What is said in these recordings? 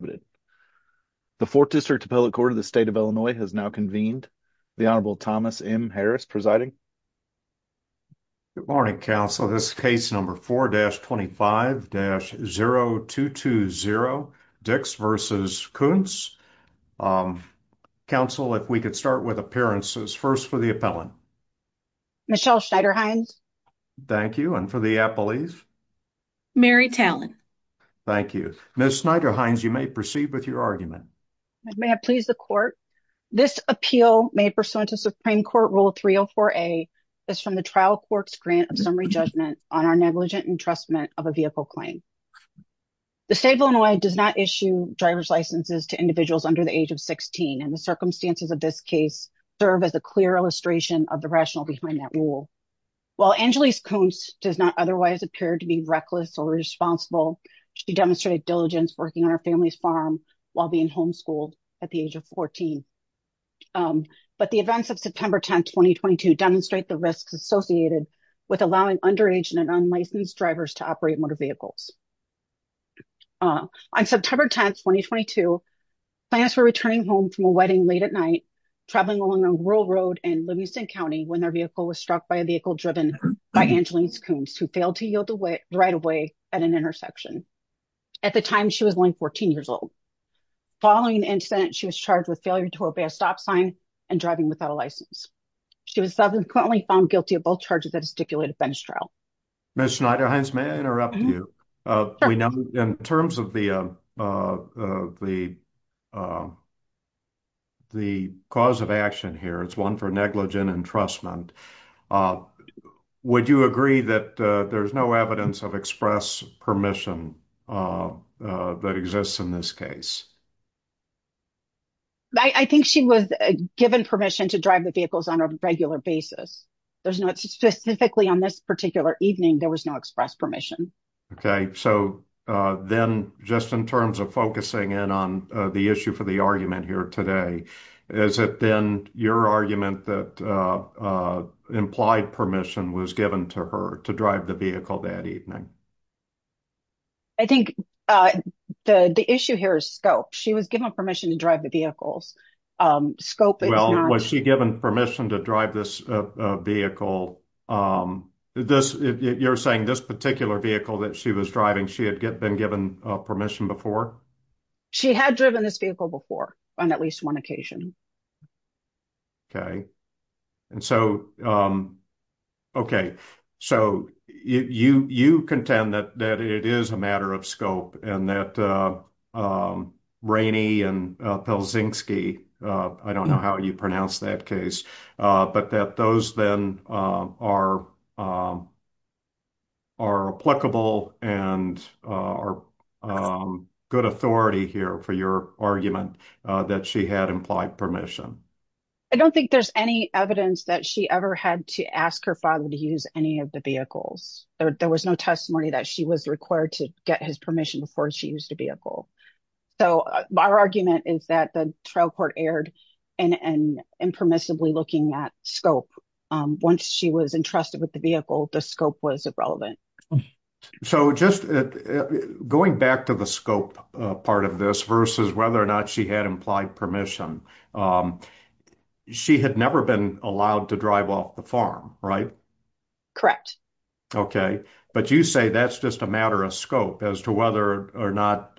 Michelle Schneider-Hinds Mary Tallin Michelle Schneider-Hinds Michelle Schneider-Hinds Michelle Schneider-Hinds Michelle Schneider-Hinds Michelle Schneider-Hinds Michelle Schneider-Hinds Michelle Schneider-Hinds Michelle Schneider-Hinds So, just going back to the scope part of this versus whether or not she had implied permission. She had never been allowed to drive off the farm, right? Correct. Okay, but you say that's just a matter of scope as to whether or not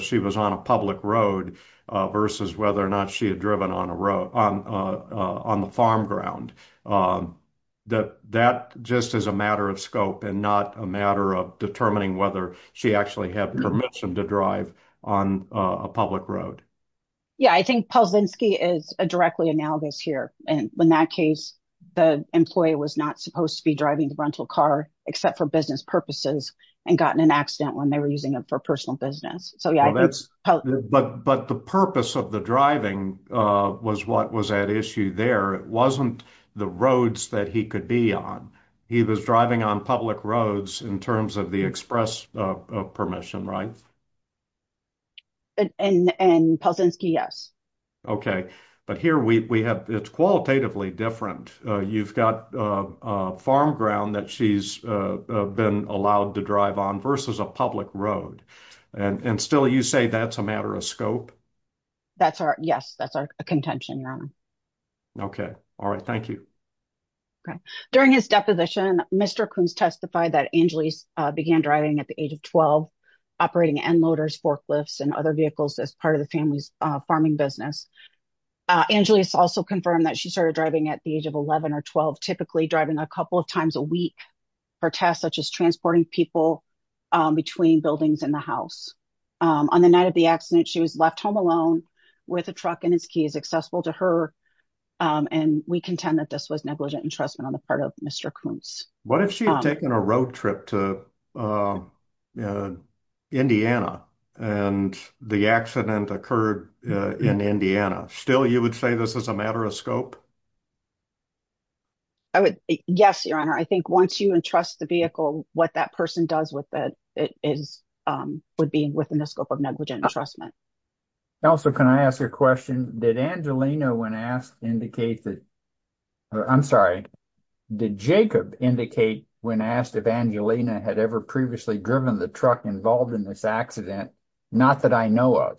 she was on a public road versus whether or not she had driven on a road on on the farm ground that that just as a matter of scope and not a matter of determining whether she actually have permission to drive on a public road. Yeah, I think is a directly analogous here. And when that case, the employee was not supposed to be driving the rental car, except for business purposes and gotten an accident when they were using it for personal business. So, yeah, that's but but the purpose of the driving was what was at issue there. It wasn't the roads that he could be on. He was driving on public roads in terms of the express permission. Right. And and yes. Okay, but here we have it's qualitatively different. You've got a farm ground that she's been allowed to drive on versus a public road and still you say that's a matter of scope. That's our yes, that's our contention. Okay. All right. Thank you. During his deposition, Mr Coons testified that Angeles began driving at the age of 12 operating and motors forklifts and other vehicles as part of the family's farming business. Angeles also confirmed that she started driving at the age of 11 or 12 typically driving a couple of times a week for tasks such as transporting people between buildings in the house. On the night of the accident, she was left home alone with a truck and his keys accessible to her. And we contend that this was negligent entrustment on the part of Mr Coons. What if she had taken a road trip to Indiana, and the accident occurred in Indiana still you would say this is a matter of scope. Yes, your honor, I think once you entrust the vehicle, what that person does with it is would be within the scope of negligent entrustment. Also, can I ask a question? Did Angelina when asked indicate that? I'm sorry, did Jacob indicate when asked if Angelina had ever previously driven the truck involved in this accident? Not that I know of.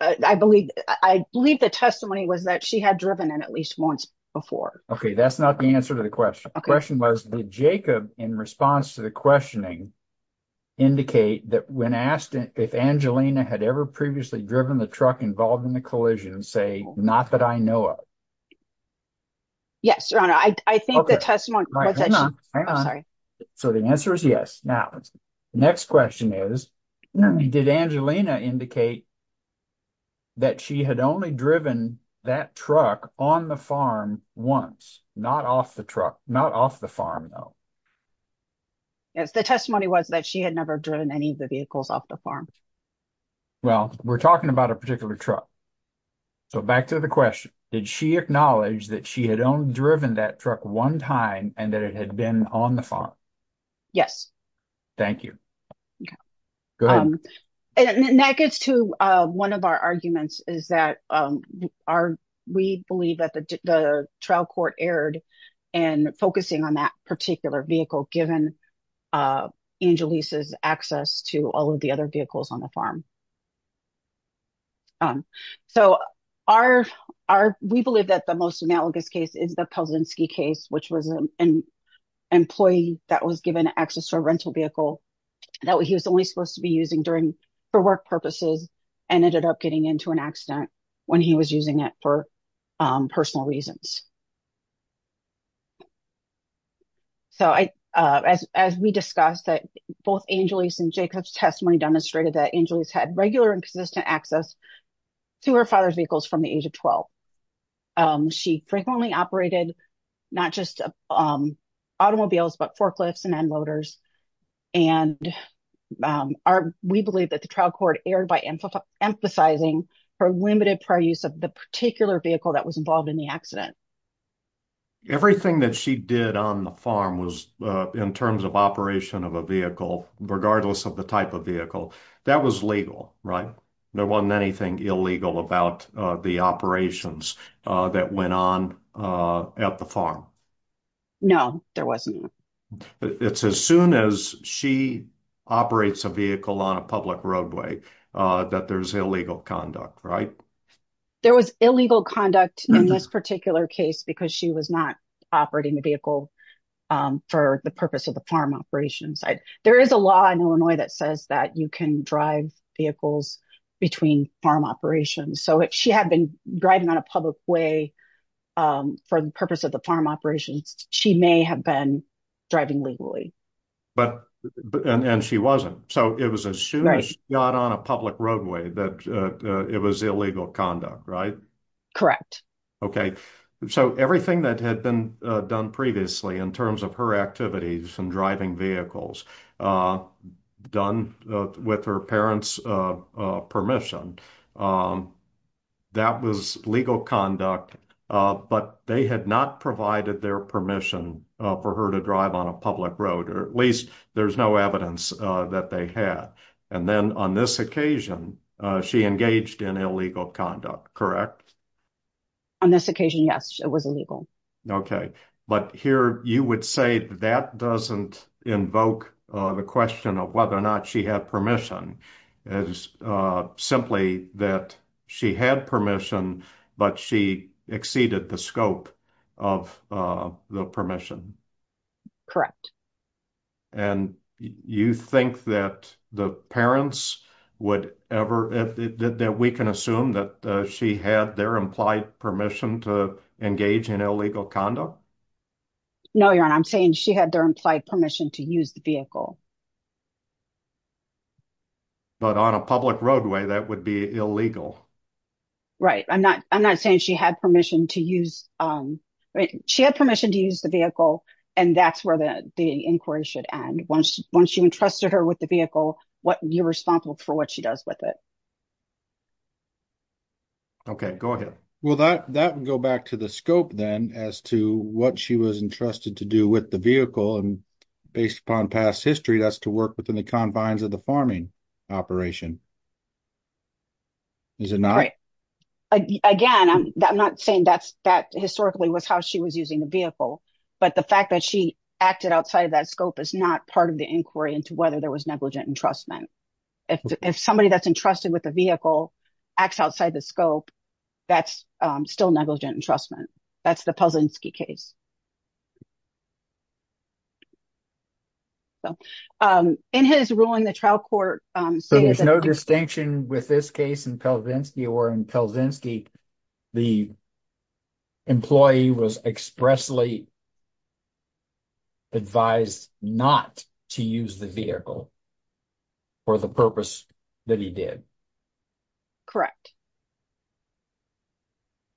I believe I believe the testimony was that she had driven in at least once before. Okay, that's not the answer to the question. The question was, did Jacob in response to the questioning. Indicate that when asked if Angelina had ever previously driven the truck involved in the collision say, not that I know of. Yes, your honor, I think the testimony. So, the answer is yes. Now, the next question is, did Angelina indicate that she had only driven that truck on the farm once, not off the truck, not off the farm though. Yes, the testimony was that she had never driven any of the vehicles off the farm. Well, we're talking about a particular truck. So, back to the question, did she acknowledge that she had only driven that truck one time and that it had been on the farm? Yes, thank you. And that gets to one of our arguments is that we believe that the trial court erred and focusing on that particular vehicle given Angelisa's access to all of the other vehicles on the farm. So, we believe that the most analogous case is the Pelzinski case, which was an employee that was given access to a rental vehicle that he was only supposed to be using for work purposes and ended up getting into an accident when he was using it for personal reasons. So, as we discussed that both Angelisa and Jacob's testimony demonstrated that Angelisa had regular and consistent access to her father's vehicles from the age of 12. She frequently operated not just automobiles, but forklifts and end motors. And we believe that the trial court erred by emphasizing her limited prior use of the particular vehicle that was involved in the accident. Everything that she did on the farm was in terms of operation of a vehicle, regardless of the type of vehicle. That was legal, right? There wasn't anything illegal about the operations that went on at the farm. No, there wasn't. It's as soon as she operates a vehicle on a public roadway that there's illegal conduct, right? There was illegal conduct in this particular case because she was not operating the vehicle for the purpose of the farm operations. There is a law in Illinois that says that you can drive vehicles between farm operations. So, if she had been driving on a public way for the purpose of the farm operations, she may have been driving legally. And she wasn't. So, it was as soon as she got on a public roadway that it was illegal conduct, right? Correct. Okay. So, everything that had been done previously in terms of her activities and driving vehicles done with her parents' permission, that was legal conduct, but they had not provided their permission for her to drive on a public road, or at least there's no evidence that they had. And then on this occasion, she engaged in illegal conduct, correct? On this occasion, yes, it was illegal. Okay. But here you would say that doesn't invoke the question of whether or not she had permission. It's simply that she had permission, but she exceeded the scope of the permission. Correct. And you think that the parents would ever, that we can assume that she had their implied permission to engage in illegal conduct? No, Your Honor, I'm saying she had their implied permission to use the vehicle. But on a public roadway, that would be illegal. Right. I'm not saying she had permission to use the vehicle, and that's where the inquiry should end. Once you entrusted her with the vehicle, you're responsible for what she does with it. Okay, go ahead. Well, that would go back to the scope, then, as to what she was entrusted to do with the vehicle, and based upon past history, that's to work within the confines of the farming operation. Is it not? Again, I'm not saying that historically was how she was using the vehicle. But the fact that she acted outside of that scope is not part of the inquiry into whether there was negligent entrustment. If somebody that's entrusted with a vehicle acts outside the scope, that's still negligent entrustment. That's the Pozanski case. In his ruling, the trial court stated that... So there's no distinction with this case in Pozanski, or in Pozanski, the employee was expressly advised not to use the vehicle for the purpose that he did? Correct.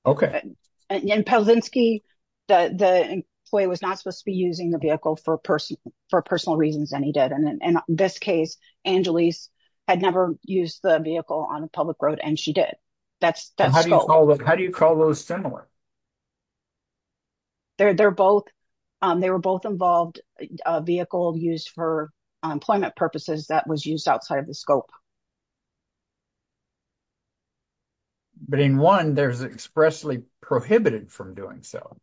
Okay. In Pozanski, the employee was not supposed to be using the vehicle for personal reasons, and he did. And in this case, Angelise had never used the vehicle on a public road, and she did. How do you call those similar? They were both involved, a vehicle used for employment purposes that was used outside of the scope. But in one, there's expressly prohibited from doing so.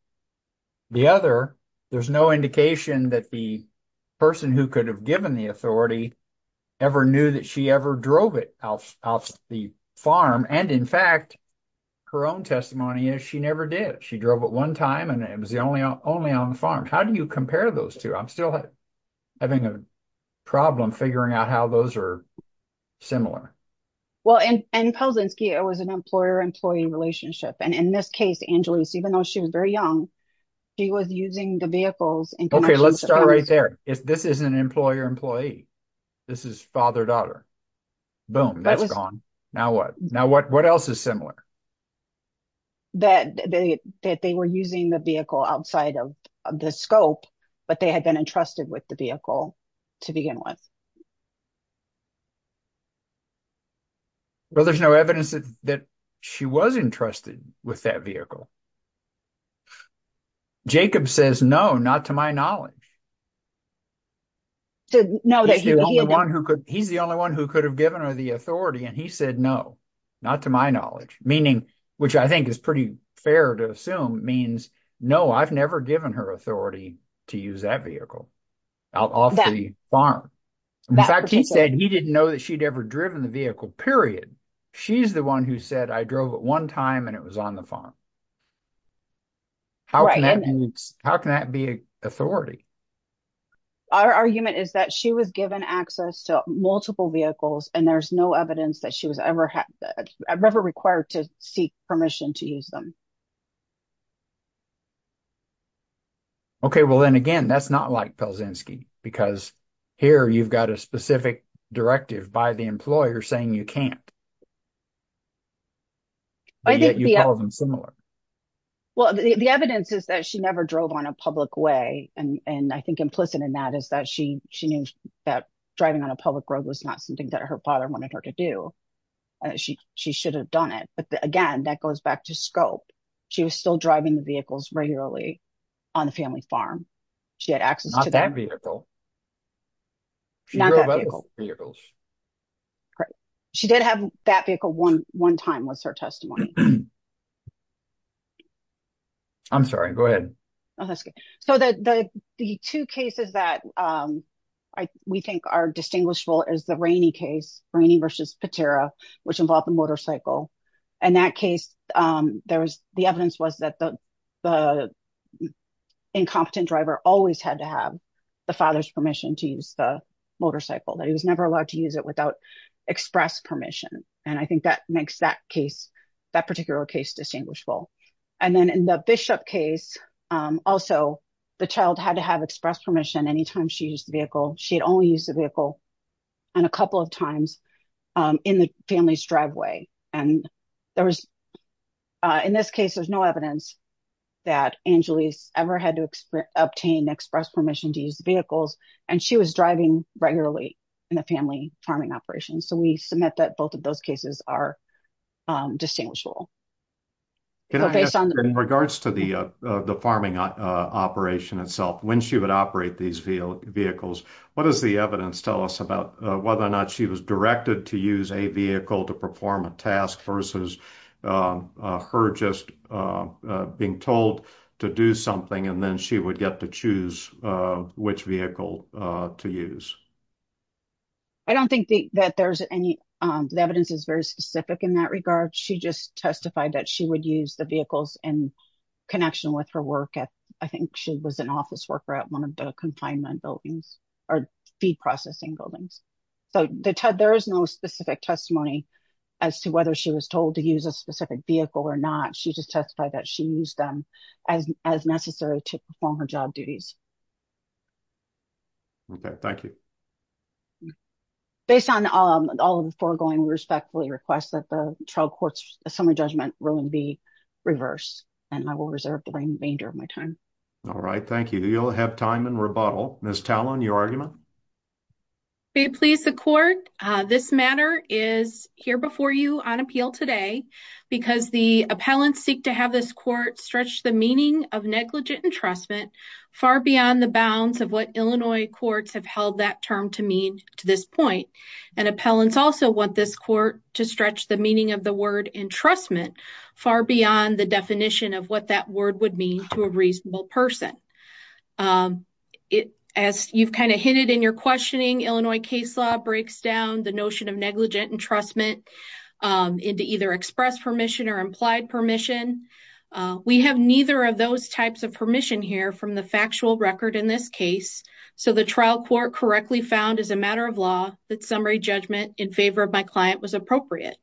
The other, there's no indication that the person who could have given the authority ever knew that she ever drove it off the farm. And in fact, her own testimony is she never did. She drove it one time, and it was only on the farm. How do you compare those two? I'm still having a problem figuring out how those are similar. Well, in Pozanski, it was an employer-employee relationship. And in this case, Angelise, even though she was very young, she was using the vehicle. Okay, let's start right there. This is an employer-employee. This is father-daughter. Boom, that's gone. Now what? Now what else is similar? That they were using the vehicle outside of the scope, but they had been entrusted with the vehicle to begin with. Well, there's no evidence that she was entrusted with that vehicle. Jacob says no, not to my knowledge. He's the only one who could have given her the authority, and he said no, not to my knowledge. Meaning, which I think is pretty fair to assume, means no, I've never given her authority to use that vehicle off the farm. In fact, he said he didn't know that she'd ever driven the vehicle, period. She's the one who said I drove it one time, and it was on the farm. How can that be authority? Our argument is that she was given access to multiple vehicles, and there's no evidence that she was ever required to seek permission to use them. Okay, well, then again, that's not like Pelzinski, because here you've got a specific directive by the employer saying you can't. But yet you call them similar. Well, the evidence is that she never drove on a public way, and I think implicit in that is that she knew that driving on a public road was not something that her father wanted her to do. She should have done it. But again, that goes back to scope. She was still driving the vehicles regularly on the family farm. She had access to that vehicle. She drove other vehicles. She did have that vehicle one time was her testimony. I'm sorry, go ahead. So the two cases that we think are distinguishable is the Rainey case, Rainey versus Patera, which involved the motorcycle. In that case, the evidence was that the incompetent driver always had to have the father's permission to use the motorcycle, that he was never allowed to use it without express permission. And I think that makes that particular case distinguishable. And then in the Bishop case, also, the child had to have express permission anytime she used the vehicle. She had only used the vehicle on a couple of times in the family's driveway. And there was, in this case, there's no evidence that Angelise ever had to obtain express permission to use vehicles, and she was driving regularly in the family farming operation. So we submit that both of those cases are distinguishable. In regards to the farming operation itself, when she would operate these vehicles, what does the evidence tell us about whether or not she was directed to use a vehicle to perform a task versus her just being told to do something and then she would get to choose which vehicle to use? I don't think that there's any evidence that's very specific in that regard. She just testified that she would use the vehicles in connection with her work. I think she was an office worker at one of the confinement buildings or feed processing buildings. So there is no specific testimony as to whether she was told to use a specific vehicle or not. She just testified that she used them as necessary to perform her job duties. Okay, thank you. Based on all of the foregoing, we respectfully request that the trial court's assembly judgment ruling be reversed, and I will reserve the remainder of my time. All right, thank you. You'll have time in rebuttal. Ms. Tallon, your argument? May it please the court, this matter is here before you on appeal today because the appellants seek to have this court stretch the meaning of negligent entrustment far beyond the bounds of what Illinois courts have held that term to mean to this point. And appellants also want this court to stretch the meaning of the word entrustment far beyond the definition of what that word would mean to a reasonable person. As you've kind of hinted in your questioning, Illinois case law breaks down the notion of negligent entrustment into either express permission or implied permission. We have neither of those types of permission here from the factual record in this case, so the trial court correctly found as a matter of law that summary judgment in favor of my client was appropriate.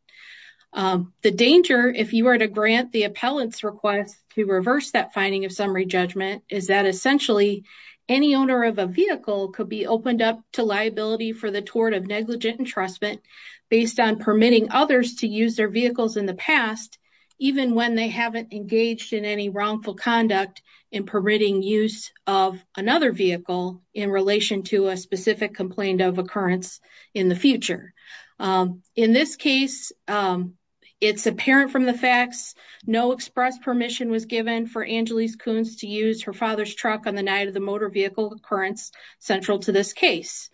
The danger, if you were to grant the appellant's request to reverse that finding of summary judgment, is that essentially any owner of a vehicle could be opened up to liability for the tort of negligent entrustment based on permitting others to use their vehicles in the past, even when they haven't engaged in any wrongful conduct in permitting use of another vehicle in relation to a specific complaint of occurrence in the future. In this case, it's apparent from the facts, no express permission was given for Angeles Kunz to use her father's truck on the night of the motor vehicle occurrence central to this case.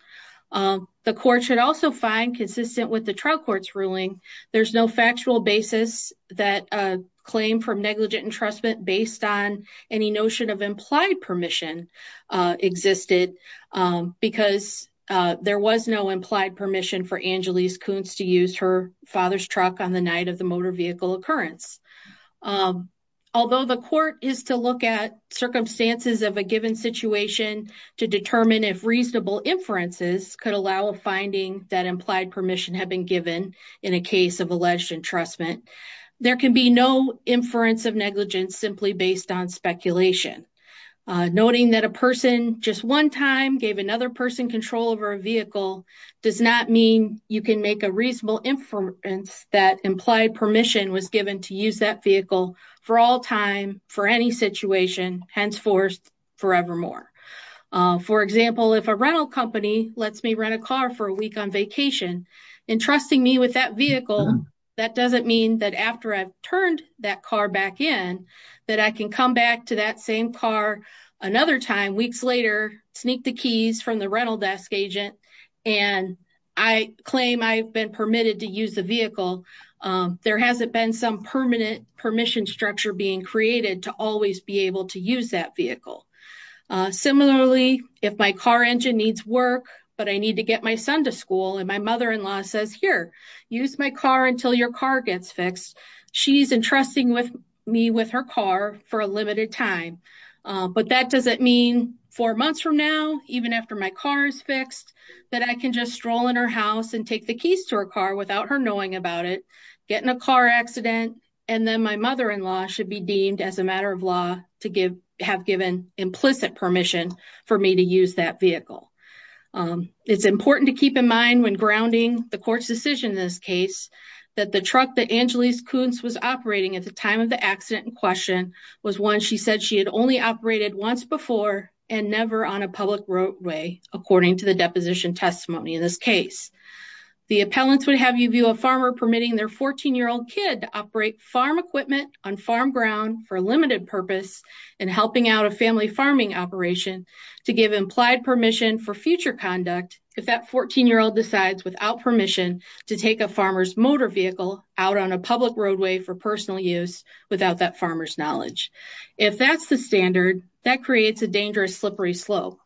The court should also find consistent with the trial court's ruling, there's no factual basis that a claim for negligent entrustment based on any notion of implied permission existed because there was no implied permission for Angeles Kunz to use her father's truck on the night of the motor vehicle occurrence. Although the court is to look at circumstances of a given situation to determine if reasonable inferences could allow a finding that implied permission had been given in a case of alleged entrustment, there can be no inference of negligence simply based on speculation. Noting that a person just one time gave another person control over a vehicle does not mean you can make a reasonable inference that implied permission was given to use that vehicle for all time for any situation, henceforth forevermore. For example, if a rental company lets me rent a car for a week on vacation, entrusting me with that vehicle, that doesn't mean that after I've turned that car back in, that I can come back to that same car another time weeks later, sneak the keys from the rental desk agent, and I claim I've been permitted to use the vehicle. There hasn't been some permanent permission structure being created to always be able to use that vehicle. Similarly, if my car engine needs work, but I need to get my son to school, and my mother-in-law says, here, use my car until your car gets fixed, she's entrusting me with her car for a limited time. But that doesn't mean four months from now, even after my car is fixed, that I can just stroll in her house and take the keys to her car without her knowing about it, get in a car accident, and then my mother-in-law should be deemed as a matter of law to have given implicit permission for me to use that vehicle. It's important to keep in mind when grounding the court's decision in this case, that the truck that Angelise Kuntz was operating at the time of the accident in question was one she said she had only operated once before and never on a public roadway, according to the deposition testimony in this case. The appellants would have you view a farmer permitting their 14-year-old kid to operate farm equipment on farm ground for a limited purpose and helping out a family farming operation to give implied permission for future conduct if that 14-year-old decides without permission to take a farmer's motor vehicle out on a public roadway for personal use without that farmer's knowledge. If that's the standard, that creates a dangerous slippery slope.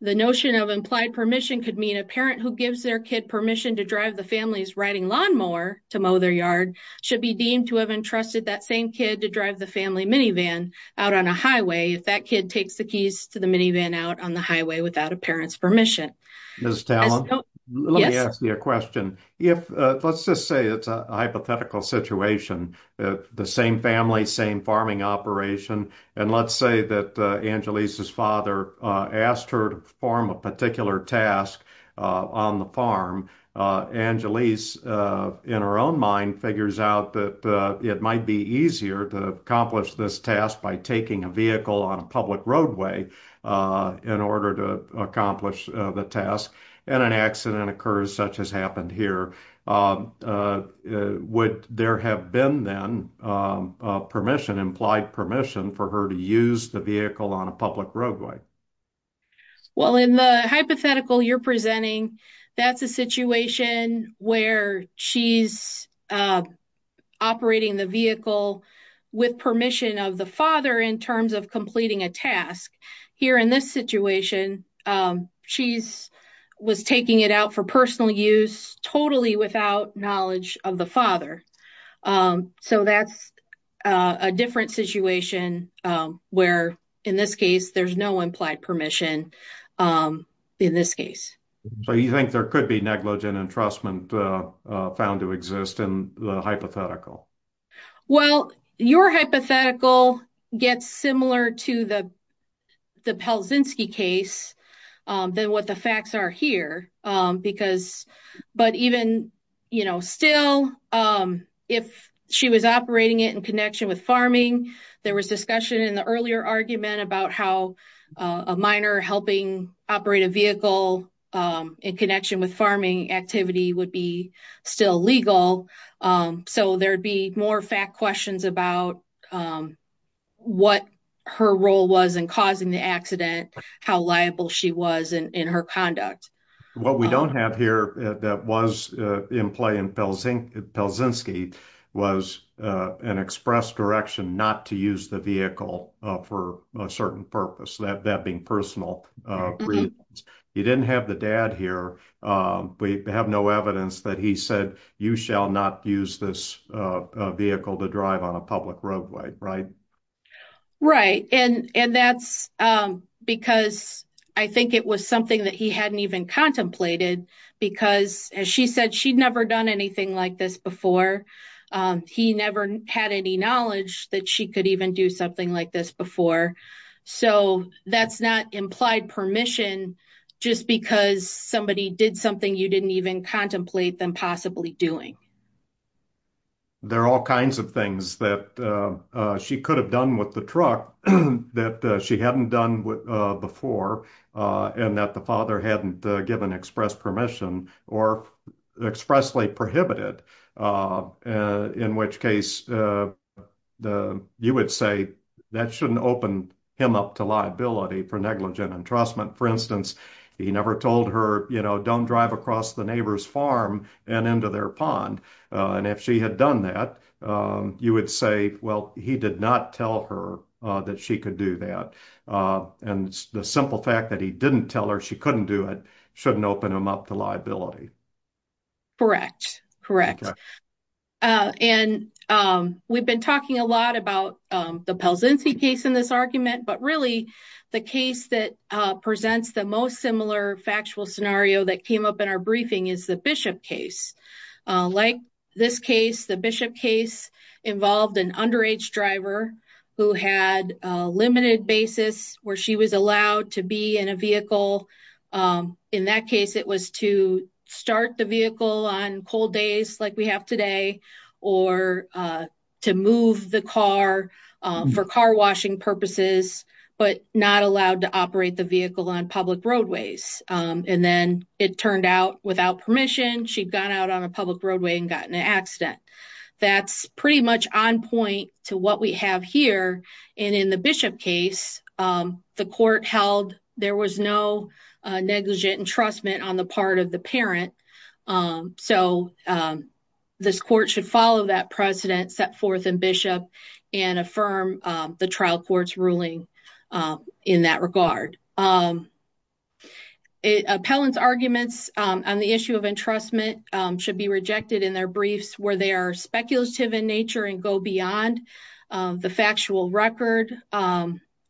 The notion of implied permission could mean a parent who gives their kid permission to drive the family's riding lawnmower to mow their yard should be deemed to have entrusted that same kid to drive the family minivan out on a highway if that kid takes the keys to the minivan out on the highway without a parent's permission. Let me ask you a question. Let's just say it's a hypothetical situation. The same family, same farming operation. And let's say that Angelise's father asked her to perform a particular task on the farm. Angelise, in her own mind, figures out that it might be easier to accomplish this task by taking a vehicle on a public roadway in order to accomplish the task. And an accident occurs, such as happened here. Would there have been then permission, implied permission, for her to use the vehicle on a public roadway? Well, in the hypothetical you're presenting, that's a situation where she's operating the vehicle with permission of the father in terms of completing a task. Here in this situation, she was taking it out for personal use, totally without knowledge of the father. So that's a different situation where, in this case, there's no implied permission in this case. So you think there could be negligent entrustment found to exist in the hypothetical? Well, your hypothetical gets similar to the Pelzinski case than what the facts are here. But even still, if she was operating it in connection with farming, there was discussion in the earlier argument about how a minor helping operate a vehicle in connection with farming activity would be still legal. So there'd be more fact questions about what her role was in causing the accident, how liable she was in her conduct. What we don't have here that was in play in Pelzinski was an express direction not to use the vehicle for a certain purpose, that being personal reasons. You didn't have the dad here. We have no evidence that he said, you shall not use this vehicle to drive on a public roadway, right? Right. And that's because I think it was something that he hadn't even contemplated because, as she said, she'd never done anything like this before. He never had any knowledge that she could even do something like this before. So that's not implied permission just because somebody did something you didn't even contemplate them possibly doing. There are all kinds of things that she could have done with the truck that she hadn't done before and that the father hadn't given express permission or expressly prohibited, in which case you would say that shouldn't open him up to liability for negligent entrustment. For instance, he never told her, you know, don't drive across the neighbor's farm and into their pond. And if she had done that, you would say, well, he did not tell her that she could do that. And the simple fact that he didn't tell her she couldn't do it shouldn't open him up to liability. Correct, correct. And we've been talking a lot about the Pelsen C case in this argument, but really the case that presents the most similar factual scenario that came up in our briefing is the Bishop case. Like this case, the Bishop case involved an underage driver who had a limited basis where she was allowed to be in a vehicle. In that case, it was to start the vehicle on cold days like we have today or to move the car for car washing purposes, but not allowed to operate the vehicle on public roadways. And then it turned out without permission, she'd gone out on a public roadway and got in an accident. That's pretty much on point to what we have here. And in the Bishop case, the court held there was no negligent entrustment on the part of the parent. So this court should follow that precedent set forth in Bishop and affirm the trial court's ruling in that regard. Appellant's arguments on the issue of entrustment should be rejected in their briefs where they are speculative in nature and go beyond the factual record.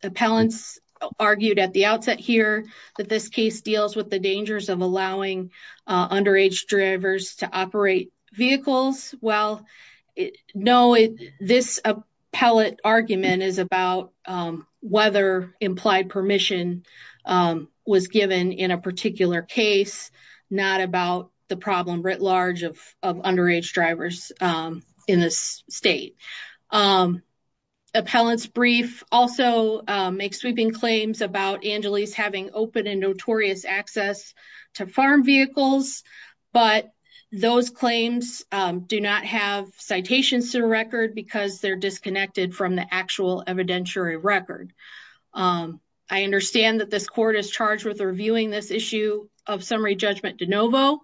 Appellants argued at the outset here that this case deals with the dangers of allowing underage drivers to operate vehicles. Well, no, this appellate argument is about whether implied permission was given in a particular case, not about the problem writ large of underage drivers in this state. Appellant's brief also makes sweeping claims about Angeles having open and notorious access to farm vehicles, but those claims do not have citations to record because they're disconnected from the actual evidentiary record. I understand that this court is charged with reviewing this issue of summary judgment de novo,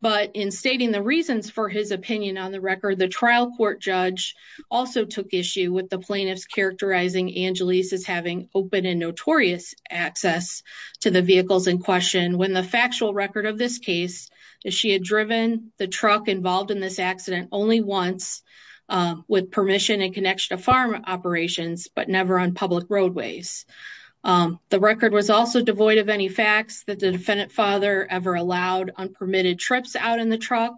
but in stating the reasons for his opinion on the record, the trial court judge also took issue with the plaintiffs characterizing Angeles as having open and notorious access to the vehicles in question when the factual record of this case is she had driven the truck involved in this accident only once with permission and connection to farm operations, but never on public roads. The record was also devoid of any facts that the defendant father ever allowed on permitted trips out in the truck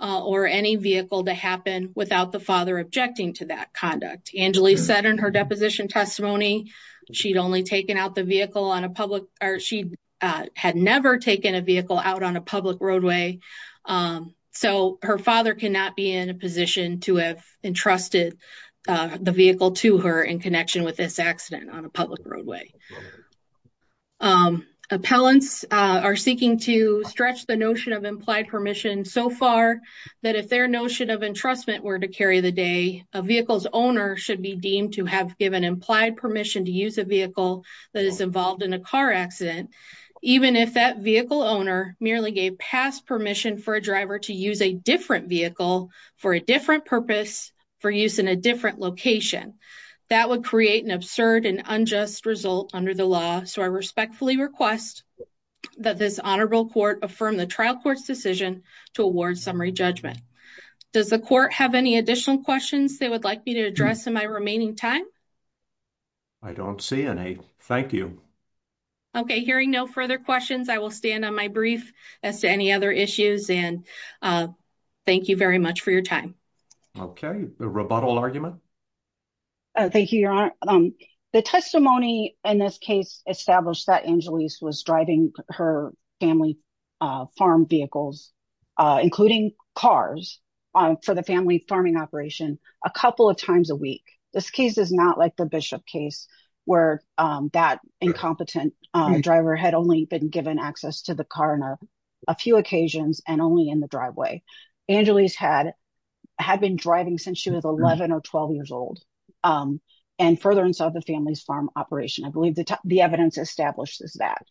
or any vehicle to happen without the father objecting to that conduct. Angeles said in her deposition testimony, she'd only taken out the vehicle on a public or she had never taken a vehicle out on a public roadway. So her father cannot be in a position to have entrusted the vehicle to her in connection with this accident on a public roadway. Appellants are seeking to stretch the notion of implied permission so far that if their notion of entrustment were to carry the day, a vehicle's owner should be deemed to have given implied permission to use a vehicle that is involved in a car accident. Even if that vehicle owner merely gave past permission for a driver to use a different vehicle for a different purpose for use in a different location, that would create an absurd and unjust result under the law. So I respectfully request that this honorable court affirm the trial court's decision to award summary judgment. Does the court have any additional questions they would like me to address in my remaining time? I don't see any. Thank you. Okay. Hearing no further questions, I will stand on my brief as to any other issues and thank you very much for your time. Okay. Rebuttal argument. Thank you, Your Honor. The testimony in this case established that Angeles was driving her family farm vehicles, including cars, for the family farming operation a couple of times a week. This case is not like the Bishop case where that incompetent driver had only been given access to the car on a few occasions and only in the driveway. Angeles had been driving since she was 11 or 12 years old and further inside the family's farm operation. I believe the evidence established is that.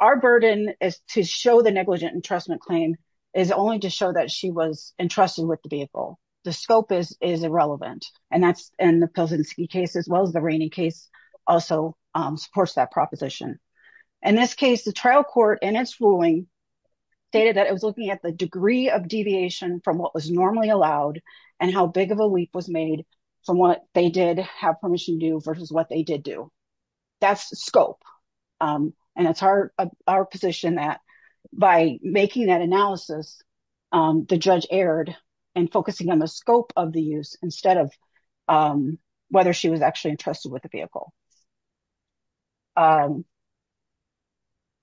Our burden is to show the negligent entrustment claim is only to show that she was entrusted with the vehicle. The scope is irrelevant, and that's in the Pelzinski case as well as the Rainey case also supports that proposition. In this case, the trial court in its ruling stated that it was looking at the degree of deviation from what was normally allowed and how big of a leap was made from what they did have permission to do versus what they did do. That's the scope, and it's our position that by making that analysis, the judge erred in focusing on the scope of the use instead of whether she was actually entrusted with the vehicle.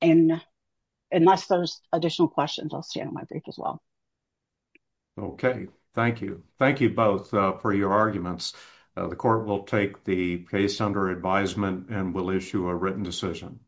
Unless there's additional questions, I'll stay on my brief as well. Okay, thank you. Thank you both for your arguments. The court will take the case under advisement and will issue a written decision.